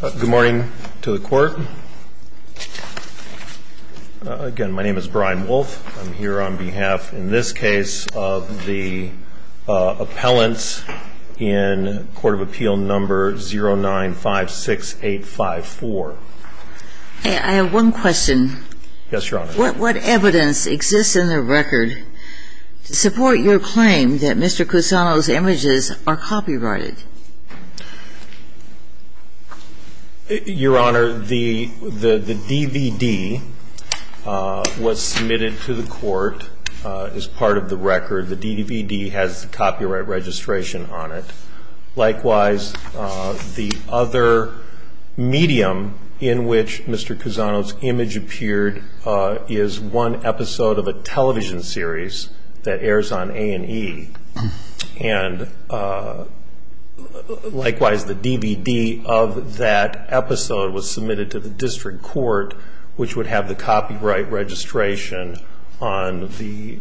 Good morning to the court. Again, my name is Brian Wolfe. I'm here on behalf, in this case, of the appellants in Court of Appeal number 0956854. I have one question. Yes, Your Honor. What evidence exists in the record to support your claim that Mr. Cusano's images are copyrighted? Your Honor, the DVD was submitted to the court as part of the record. The DVD has the copyright registration on it. Likewise, the other medium in which Mr. Cusano's image appeared is one episode of a television series that airs on A&E. And likewise, the DVD of that episode was submitted to the district court, which would have the copyright registration on the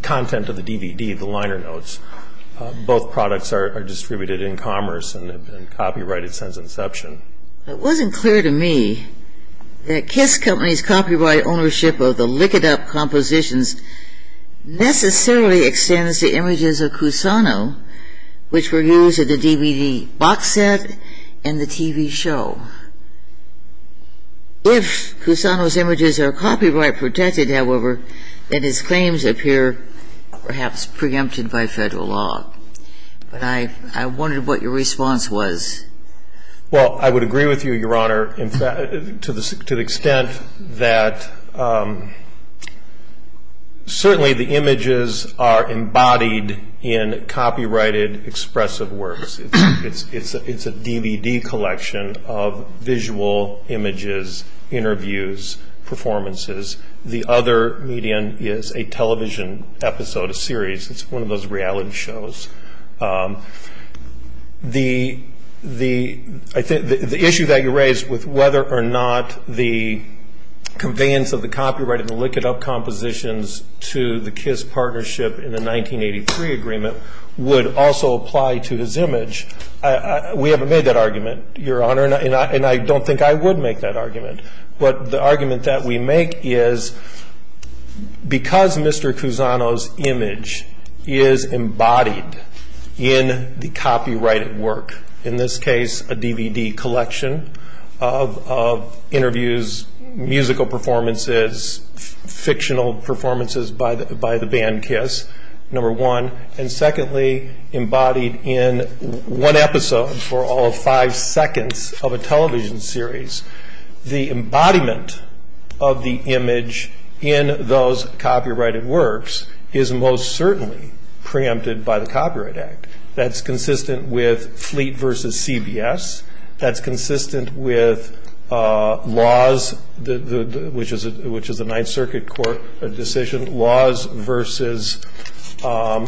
content of the DVD, the liner notes. Both products are distributed in commerce and have been copyrighted since inception. It wasn't clear to me that Kiss Company's copyright ownership of the Lick It Up compositions necessarily extends to images of Cusano, which were used in the DVD box set and the TV show. If Cusano's images are copyright protected, however, then his claims appear perhaps preempted by federal law. But I wondered what your response was. Well, I would agree with you, Your Honor, to the extent that certainly the images are embodied in copyrighted expressive works. It's a DVD collection of visual images, interviews, performances. The other medium is a television episode, a series. It's one of those reality shows. The issue that you raised with whether or not the conveyance of the copyright of the Lick It Up compositions to the Kiss partnership in the 1983 agreement would also apply to his image, we haven't made that argument, Your Honor. And I don't think I would make that argument. But the argument that we make is because Mr. Cusano's image is embodied in the copyrighted work, in this case a DVD collection of interviews, musical performances, fictional performances by the band Kiss, number one. And secondly, embodied in one episode for all of five seconds of a television series. The embodiment of the image in those copyrighted works is most certainly preempted by the Copyright Act. That's consistent with Fleet v. CBS. That's consistent with Laws, which is a Ninth Circuit court decision, Laws v.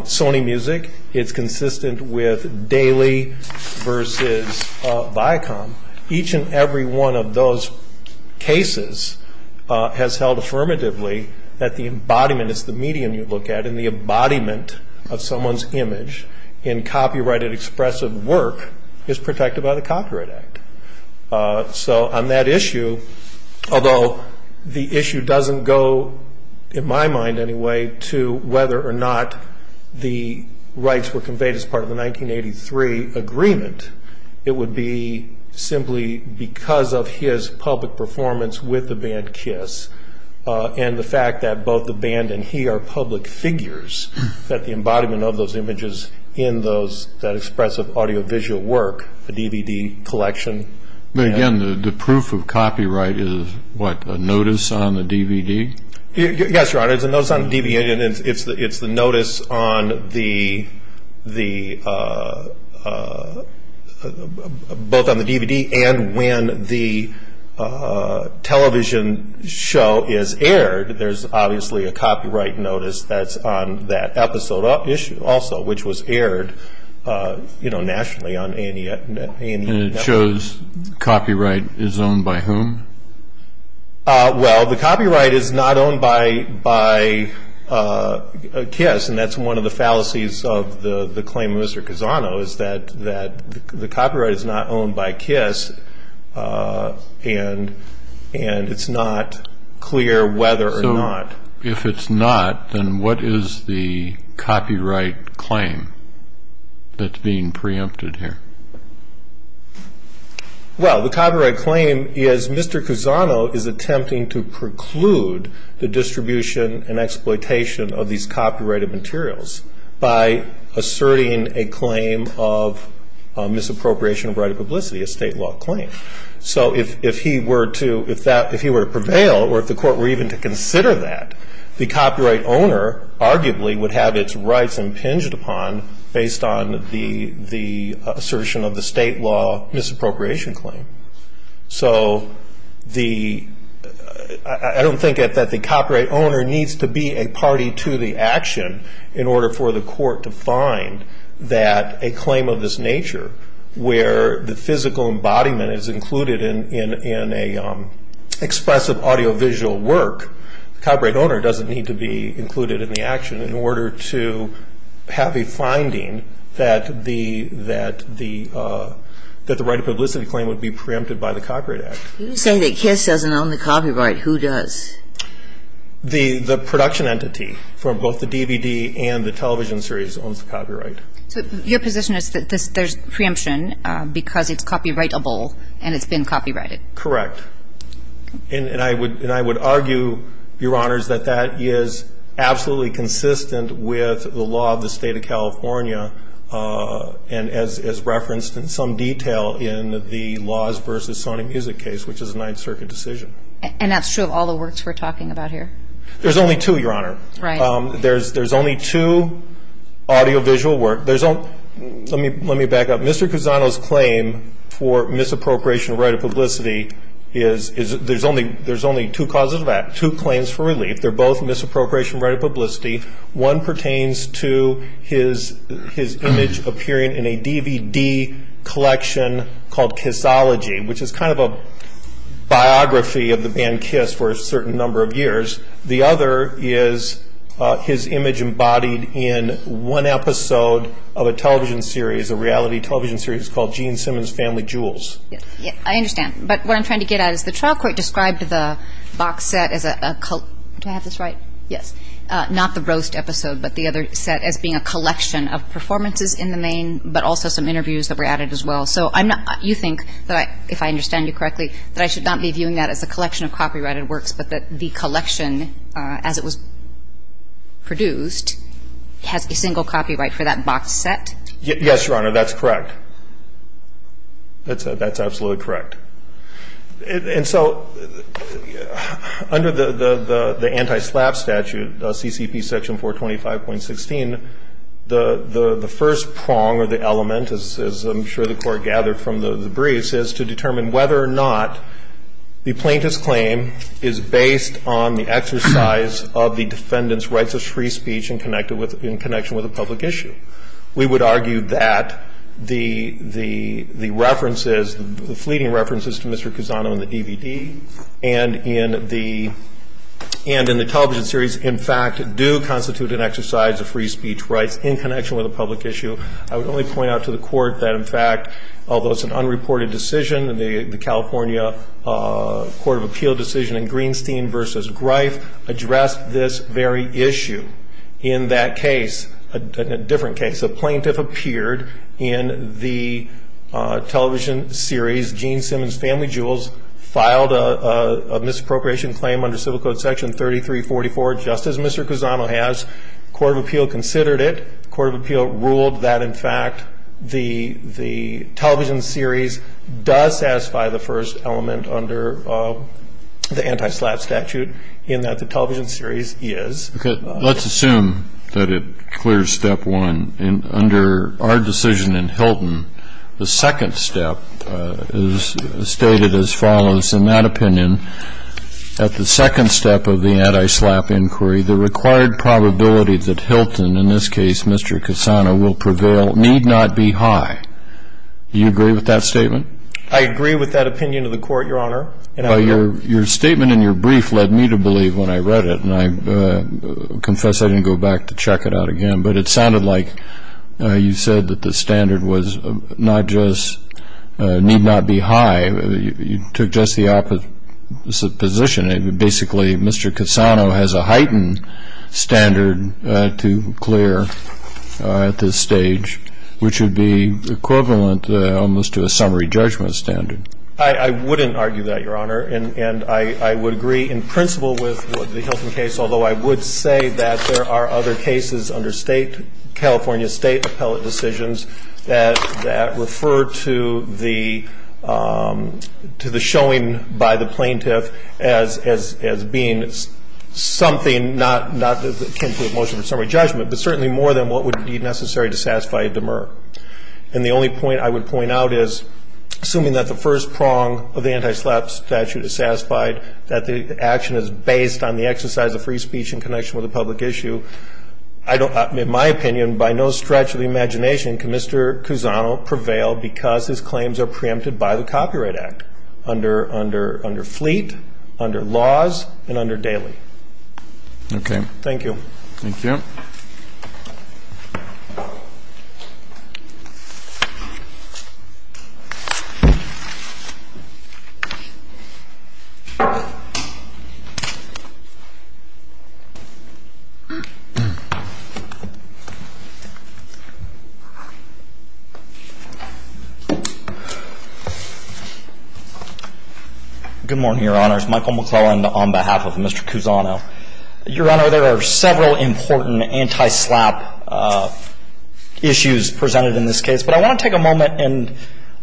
Sony Music. It's consistent with Daily v. Viacom. Each and every one of those cases has held affirmatively that the embodiment is the medium you look at and the embodiment of someone's image in copyrighted expressive work is protected by the Copyright Act. So on that issue, although the issue doesn't go, in my mind anyway, to whether or not the rights were conveyed as part of the 1983 agreement, it would be simply because of his public performance with the band Kiss. And the fact that both the band and he are public figures, that the embodiment of those images in that expressive audiovisual work, the DVD collection. But again, the proof of copyright is what, a notice on the DVD? Yes, Your Honor. It's a notice on the DVD and it's the notice on the, both on the DVD and when the television show is aired. There's obviously a copyright notice that's on that episode also, which was aired nationally on A&E Network. And it shows copyright is owned by whom? Well, the copyright is not owned by Kiss and that's one of the fallacies of the claim of Mr. Cazano is that the copyright is not owned by Kiss and it's not clear whether or not. So if it's not, then what is the copyright claim that's being preempted here? Well, the copyright claim is Mr. Cazano is attempting to preclude the distribution and exploitation of these copyrighted materials by asserting a claim of misappropriation of right of publicity, a state law claim. So if he were to prevail or if the court were even to consider that, the copyright owner arguably would have its rights impinged upon based on the assertion of the state law misappropriation claim. So the, I don't think that the copyright owner needs to be a party to the action in order for the court to find that a claim of this nature where the physical embodiment is included in an expressive audio visual work. The copyright owner doesn't need to be included in the action in order to have a finding that the right of publicity claim would be preempted by the Copyright Act. You say that Kiss doesn't own the copyright, who does? The production entity for both the DVD and the television series owns the copyright. So your position is that there's preemption because it's copyrightable and it's been copyrighted? Correct. And I would argue, Your Honors, that that is absolutely consistent with the law of the state of California and as referenced in some detail in the laws versus Sony Music case, which is a Ninth Circuit decision. And that's true of all the works we're talking about here? There's only two, Your Honor. Right. There's only two audio visual work. Let me back up. Mr. Cusano's claim for misappropriation of right of publicity is there's only two causes of that, two claims for relief. They're both misappropriation of right of publicity. One pertains to his image appearing in a DVD collection called Kissology, which is kind of a biography of the band Kiss for a certain number of years. The other is his image embodied in one episode of a television series, a reality television series called Gene Simmons' Family Jewels. I understand. But what I'm trying to get at is the trial court described the box set as a – do I have this right? Yes. Not the roast episode, but the other set as being a collection of performances in the main, but also some interviews that were added as well. So I'm not – you think that if I understand you correctly, that I should not be viewing that as a collection of copyrighted works, but that the collection as it was produced has a single copyright for that box set? Yes, Your Honor. That's correct. That's absolutely correct. And so under the anti-SLAPP statute, CCP section 425.16, the first prong or the element, as I'm sure the Court gathered from the briefs, is to determine whether or not the plaintiff's claim is based on the exercise of the defendant's rights of free speech in connection with a public issue. We would argue that the references, the fleeting references to Mr. Cusano in the DVD and in the television series, in fact, do constitute an exercise of free speech rights in connection with a public issue. I would only point out to the Court that, in fact, although it's an unreported decision, the California Court of Appeal decision in Greenstein v. Greif addressed this very issue. In that case, a different case, a plaintiff appeared in the television series. Gene Simmons, Family Jewels, filed a misappropriation claim under Civil Code Section 3344, just as Mr. Cusano has. The Court of Appeal considered it. The Court of Appeal ruled that, in fact, the television series does satisfy the first element under the anti-SLAPP statute in that the television series is. Let's assume that it clears step one. Under our decision in Hilton, the second step is stated as follows. In that opinion, at the second step of the anti-SLAPP inquiry, the required probability that Hilton, in this case Mr. Cusano, will prevail need not be high. Do you agree with that statement? I agree with that opinion of the Court, Your Honor. Your statement in your brief led me to believe when I read it. And I confess I didn't go back to check it out again. But it sounded like you said that the standard was not just need not be high. You took just the opposite position. Basically, Mr. Cusano has a heightened standard to clear at this stage, which would be equivalent almost to a summary judgment standard. I wouldn't argue that, Your Honor. And I would agree in principle with the Hilton case, although I would say that there are other cases under State, California State appellate decisions that refer to the showing by the plaintiff as being something not akin to a motion for summary judgment, but certainly more than what would be necessary to satisfy a demur. And the only point I would point out is, assuming that the first prong of the anti-SLAPP statute is satisfied, that the action is based on the exercise of free speech in connection with a public issue, in my opinion, by no stretch of the imagination can Mr. Cusano prevail because his claims are preempted by the Copyright Act under Fleet, under Laws, and under Daly. Okay. Thank you. Thank you. Mr. Cusano. Good morning, Your Honor. It's Michael McClellan on behalf of Mr. Cusano. Your Honor, there are several important anti-SLAPP issues presented in this case, but I want to take a moment and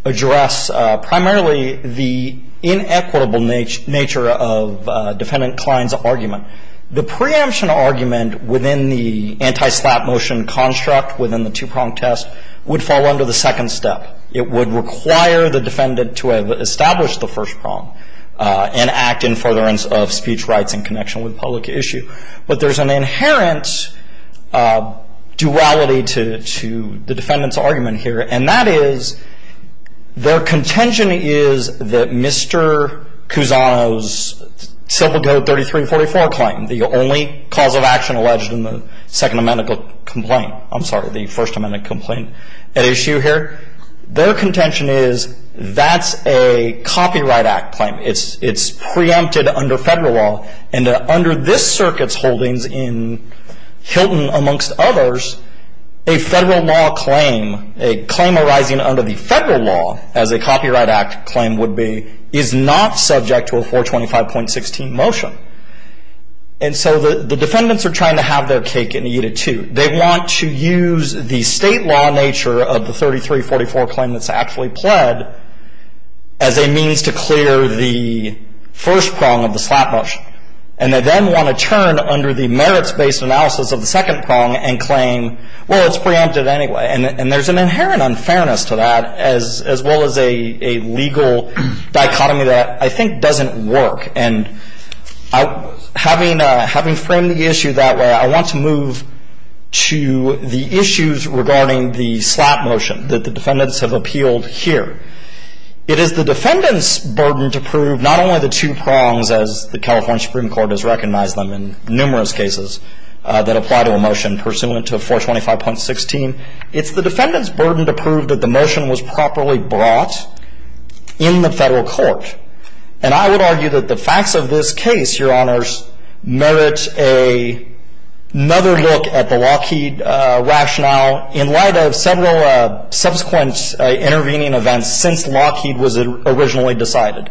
address primarily the inequitable nature of Defendant Klein's argument. The preemption argument within the anti-SLAPP motion construct within the two-prong test would fall under the second step. It would require the defendant to establish the first prong and act in furtherance of speech rights in connection with a public issue. But there's an inherent duality to the defendant's argument here, and that is their contention is that Mr. Cusano's Civil Code 3344 claim, the only cause of action alleged in the Second Amendment complaint, I'm sorry, the First Amendment complaint at issue here, their contention is that's a Copyright Act claim. It's preempted under federal law, and under this circuit's holdings in Hilton, amongst others, a federal law claim, a claim arising under the federal law, as a Copyright Act claim would be, is not subject to a 425.16 motion. And so the defendants are trying to have their cake and eat it, too. They want to use the state law nature of the 3344 claim that's actually pled as a means to clear the first prong of the slap motion. And they then want to turn under the merits-based analysis of the second prong and claim, well, it's preempted anyway. And there's an inherent unfairness to that, as well as a legal dichotomy that I think doesn't work. And having framed the issue that way, I want to move to the issues regarding the slap motion that the defendants have appealed here. It is the defendants' burden to prove not only the two prongs, as the California Supreme Court has recognized them in numerous cases that apply to a motion pursuant to 425.16. It's the defendants' burden to prove that the motion was properly brought in the federal court. And I would argue that the facts of this case, Your Honors, merit another look at the Lockheed rationale in light of several subsequent intervening events since Lockheed was originally decided.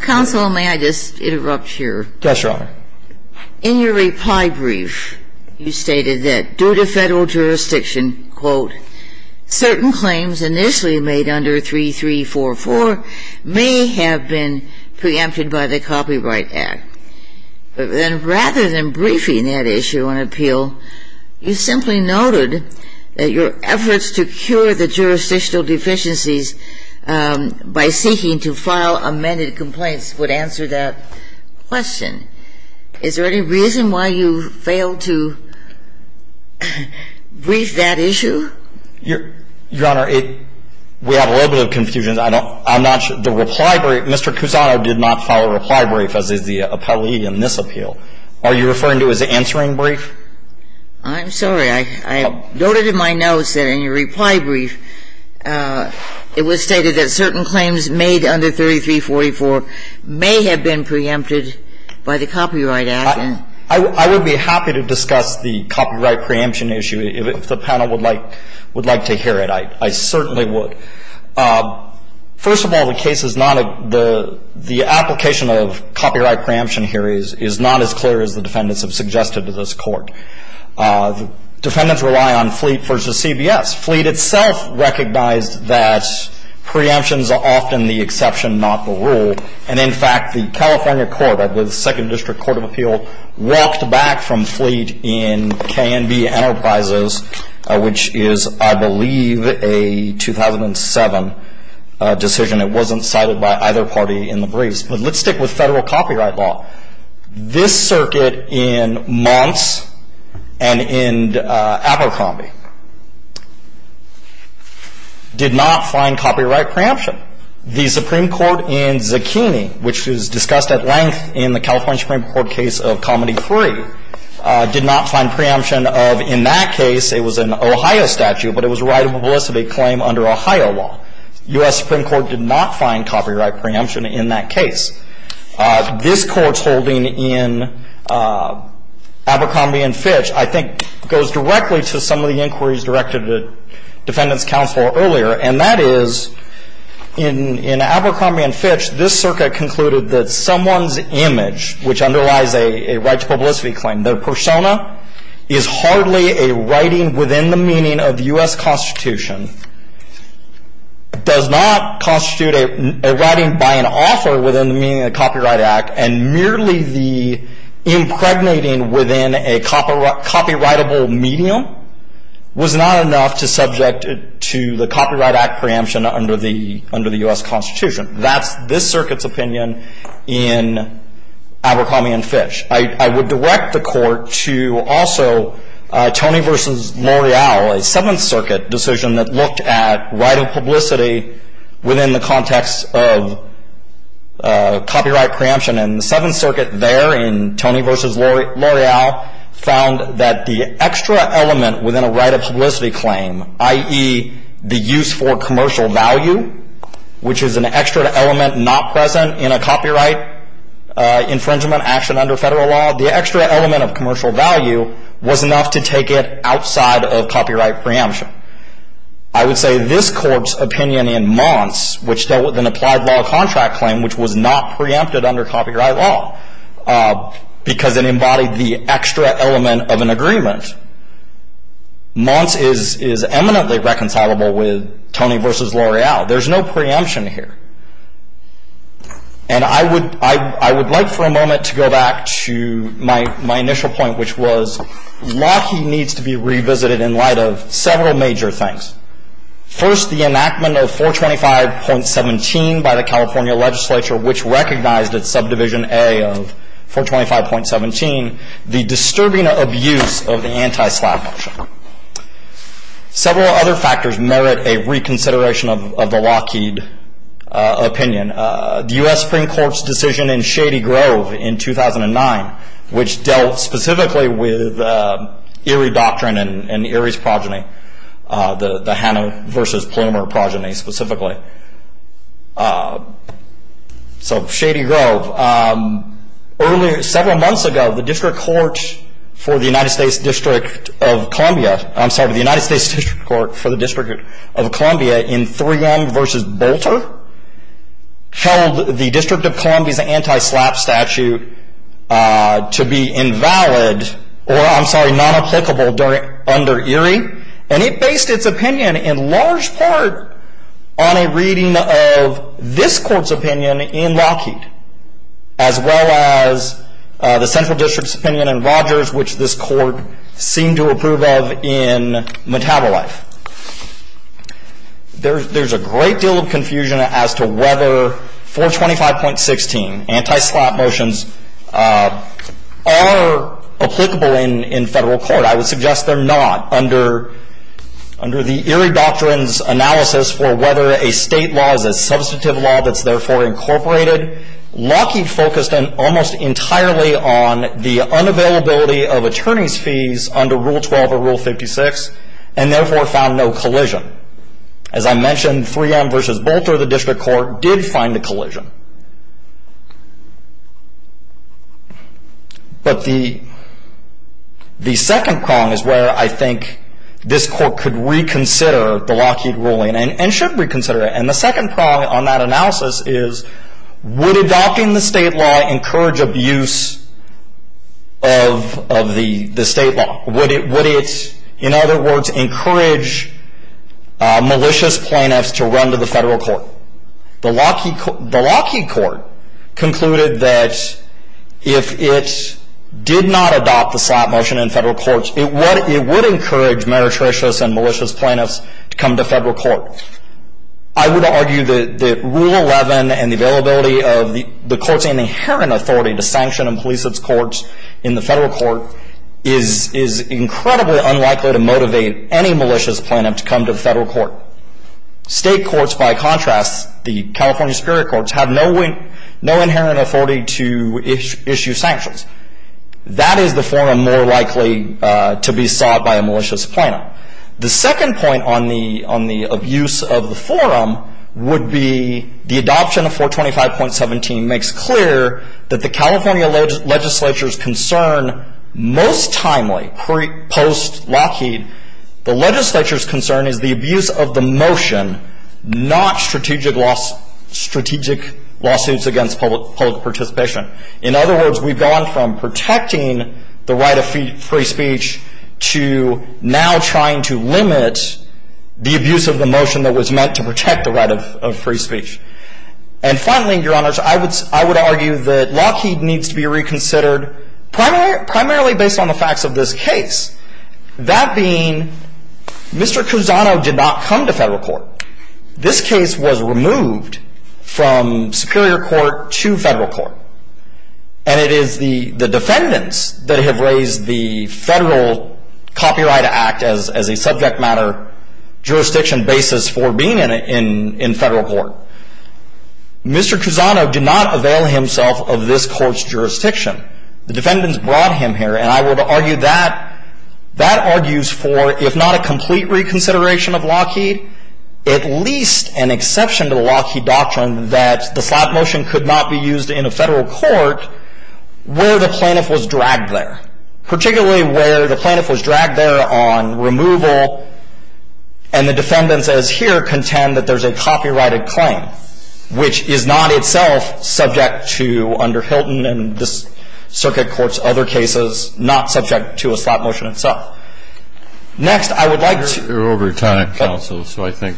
Counsel, may I just interrupt here? Yes, Your Honor. In your reply brief, you stated that due to federal jurisdiction, quote, certain claims initially made under 3344 may have been preempted by the Copyright Act. And rather than briefing that issue on appeal, you simply noted that your efforts to cure the jurisdictional deficiencies by seeking to file amended complaints would answer that question. Is there any reason why you failed to brief that issue? Your Honor, we have a little bit of confusion. I'm not sure the reply brief. Mr. Cusano did not file a reply brief, as is the appellee in this appeal. Are you referring to his answering brief? I'm sorry. I noted in my notes that in your reply brief, it was stated that certain claims made under 3344 may have been preempted by the Copyright Act. I would be happy to discuss the copyright preemption issue, if the panel would like to hear it. I certainly would. First of all, the application of copyright preemption here is not as clear as the defendants have suggested to this Court. The defendants rely on Fleet v. CBS. Fleet itself recognized that preemption is often the exception, not the rule. And, in fact, the California Court, the Second District Court of Appeal, walked back from Fleet in KNB Enterprises, which is, I believe, a 2007 decision. It wasn't cited by either party in the briefs. But let's stick with federal copyright law. This circuit in Monts and in Abercrombie did not find copyright preemption. The Supreme Court in Zucchini, which is discussed at length in the California Supreme Court case of Comedy 3, did not find preemption of, in that case, it was an Ohio statute, but it was a right of publicity claim under Ohio law. U.S. Supreme Court did not find copyright preemption in that case. This Court's holding in Abercrombie v. Fitch, I think, goes directly to some of the inquiries directed at defendants' counsel earlier, and that is, in Abercrombie v. Fitch, this circuit concluded that someone's image, which underlies a right to writing within the meaning of the U.S. Constitution, does not constitute a writing by an author within the meaning of the Copyright Act, and merely the impregnating within a copyrightable medium was not enough to subject it to the Copyright Act preemption under the U.S. Constitution. That's this circuit's opinion in Abercrombie v. Fitch. I would direct the Court to also Tony v. L'Oreal, a Seventh Circuit decision that looked at right of publicity within the context of copyright preemption, and the Seventh Circuit there in Tony v. L'Oreal found that the extra element within a right of publicity claim, i.e., the use for commercial value, which is an extra element not present in a copyright infringement action under federal law, the extra element of commercial value was enough to take it outside of copyright preemption. I would say this Court's opinion in Mons, which dealt with an applied law contract claim, which was not preempted under copyright law because it embodied the extra element of an agreement, Mons is eminently reconcilable with Tony v. L'Oreal. Now, there's no preemption here. And I would like for a moment to go back to my initial point, which was Lockheed needs to be revisited in light of several major things. First, the enactment of 425.17 by the California legislature, which recognized its subdivision A of 425.17, the disturbing abuse of the anti-slap motion. Several other factors merit a reconsideration of the Lockheed opinion. The U.S. Supreme Court's decision in Shady Grove in 2009, which dealt specifically with Erie doctrine and Erie's progeny, the Hannah v. Plummer progeny specifically. So, Shady Grove. Several months ago, the District Court for the United States District of Columbia, I'm sorry, the United States District Court for the District of Columbia in 3M v. Bolter, held the District of Columbia's anti-slap statute to be invalid, or I'm sorry, non-applicable under Erie. And it based its opinion in large part on a reading of this Court's opinion in as well as the Central District's opinion in Rogers, which this Court seemed to approve of in Metabolite. There's a great deal of confusion as to whether 425.16 anti-slap motions are applicable in federal court. I would suggest they're not. Under the Erie doctrine's analysis for whether a state law is a substantive law that's therefore incorporated, Lockheed focused almost entirely on the unavailability of attorney's fees under Rule 12 or Rule 56, and therefore found no collision. As I mentioned, 3M v. Bolter, the District Court, did find a collision. But the second prong is where I think this Court could reconsider the Lockheed ruling, and should reconsider it. And the second prong on that analysis is would adopting the state law encourage abuse of the state law? Would it, in other words, encourage malicious plaintiffs to run to the federal court? The Lockheed Court concluded that if it did not adopt the slap motion in federal courts, it would encourage meretricious and malicious plaintiffs to come to federal court. I would argue that Rule 11 and the availability of the court's inherent authority to sanction and police its courts in the federal court is incredibly unlikely to motivate any malicious plaintiff to come to the federal court. State courts, by contrast, the California Superior Courts, have no inherent authority to issue sanctions. That is the forum more likely to be sought by a malicious plaintiff. The second point on the abuse of the forum would be the adoption of 425.17 makes clear that the California legislature's concern most timely post-Lockheed, the legislature's concern is the abuse of the motion, not strategic lawsuits against public participation. In other words, we've gone from protecting the right of free speech to now trying to limit the abuse of the motion that was meant to protect the right of free speech. And finally, Your Honors, I would argue that Lockheed needs to be reconsidered primarily based on the facts of this case. That being, Mr. Cruzano did not come to federal court. This case was removed from superior court to federal court. And it is the defendants that have raised the Federal Copyright Act as a subject matter jurisdiction basis for being in federal court. Mr. Cruzano did not avail himself of this court's jurisdiction. The defendants brought him here, and I would argue that that argues for, if not a exception to the Lockheed doctrine, that the slot motion could not be used in a federal court where the plaintiff was dragged there, particularly where the plaintiff was dragged there on removal, and the defendants as here contend that there's a copyrighted claim, which is not itself subject to, under Hilton and this circuit court's other cases, not subject to a slot motion itself. Next, I would like to You're over time, counsel, so I think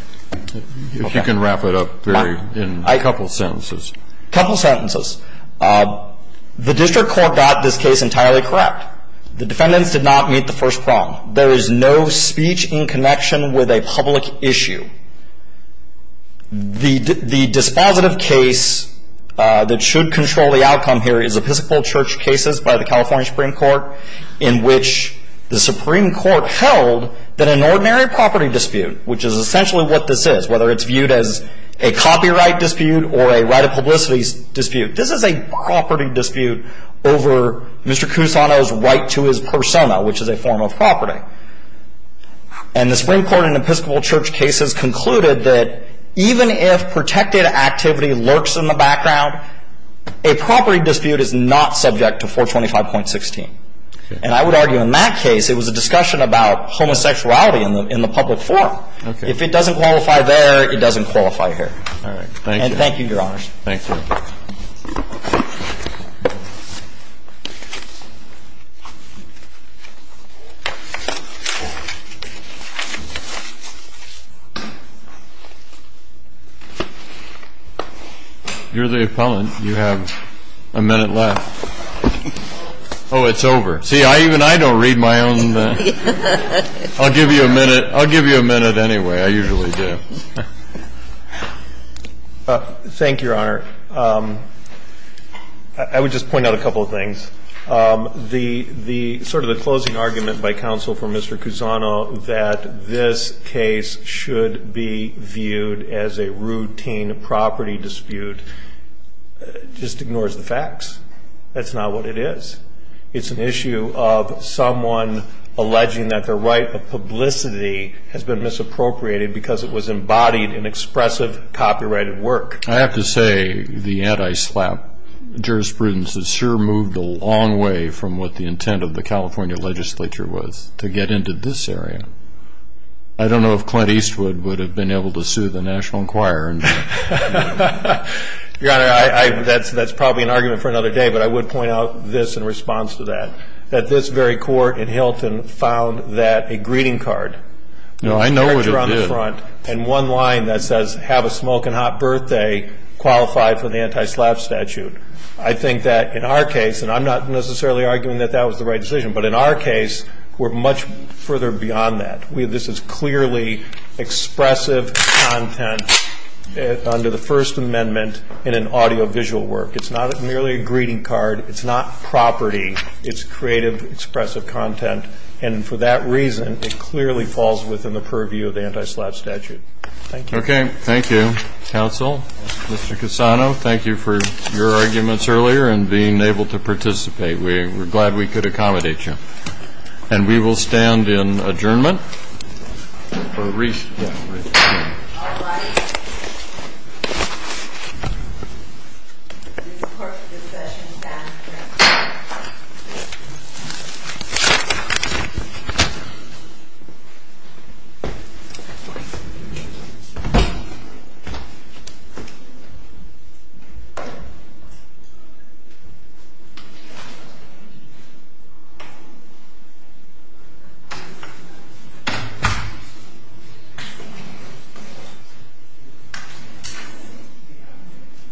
if you can wrap it up in a couple sentences. A couple sentences. The district court got this case entirely correct. The defendants did not meet the first prong. There is no speech in connection with a public issue. The dispositive case that should control the outcome here is Episcopal Church cases by the California Supreme Court in which the Supreme Court held that an ordinary property dispute, which is essentially what this is, whether it's viewed as a copyright dispute or a right of publicity dispute, this is a property dispute over Mr. Cruzano's right to his persona, which is a form of property. And the Supreme Court in Episcopal Church cases concluded that even if And I would argue in that case it was a discussion about homosexuality in the public forum. Okay. If it doesn't qualify there, it doesn't qualify here. All right. Thank you. And thank you, Your Honors. Thank you. You're the opponent. You have a minute left. Oh, it's over. See, even I don't read my own. I'll give you a minute. I'll give you a minute anyway. I usually do. Thank you, Your Honor. I would just point out a couple of things. The sort of the closing argument by counsel for Mr. Cruzano that this case should be viewed as a routine property dispute just ignores the facts. That's not what it is. It's an issue of someone alleging that the right of publicity has been misappropriated because it was embodied in expressive copyrighted work. I have to say the anti-SLAPP jurisprudence has sure moved a long way from what the intent of the California legislature was to get into this area. I don't know if Clint Eastwood would have been able to sue the National Your Honor, that's probably an argument for another day, but I would point out this in response to that, that this very court in Hilton found that a greeting card. No, I know what it did. And one line that says, have a smoking hot birthday qualified for the anti-SLAPP statute. I think that in our case, and I'm not necessarily arguing that that was the right decision, but in our case we're much further beyond that. This is clearly expressive content under the First Amendment in an audio-visual work. It's not merely a greeting card. It's not property. It's creative expressive content. And for that reason, it clearly falls within the purview of the anti-SLAPP statute. Thank you. Okay. Thank you, counsel. Mr. Cassano, thank you for your arguments earlier and being able to participate. We're glad we could accommodate you. And we will stand in adjournment. Thank you.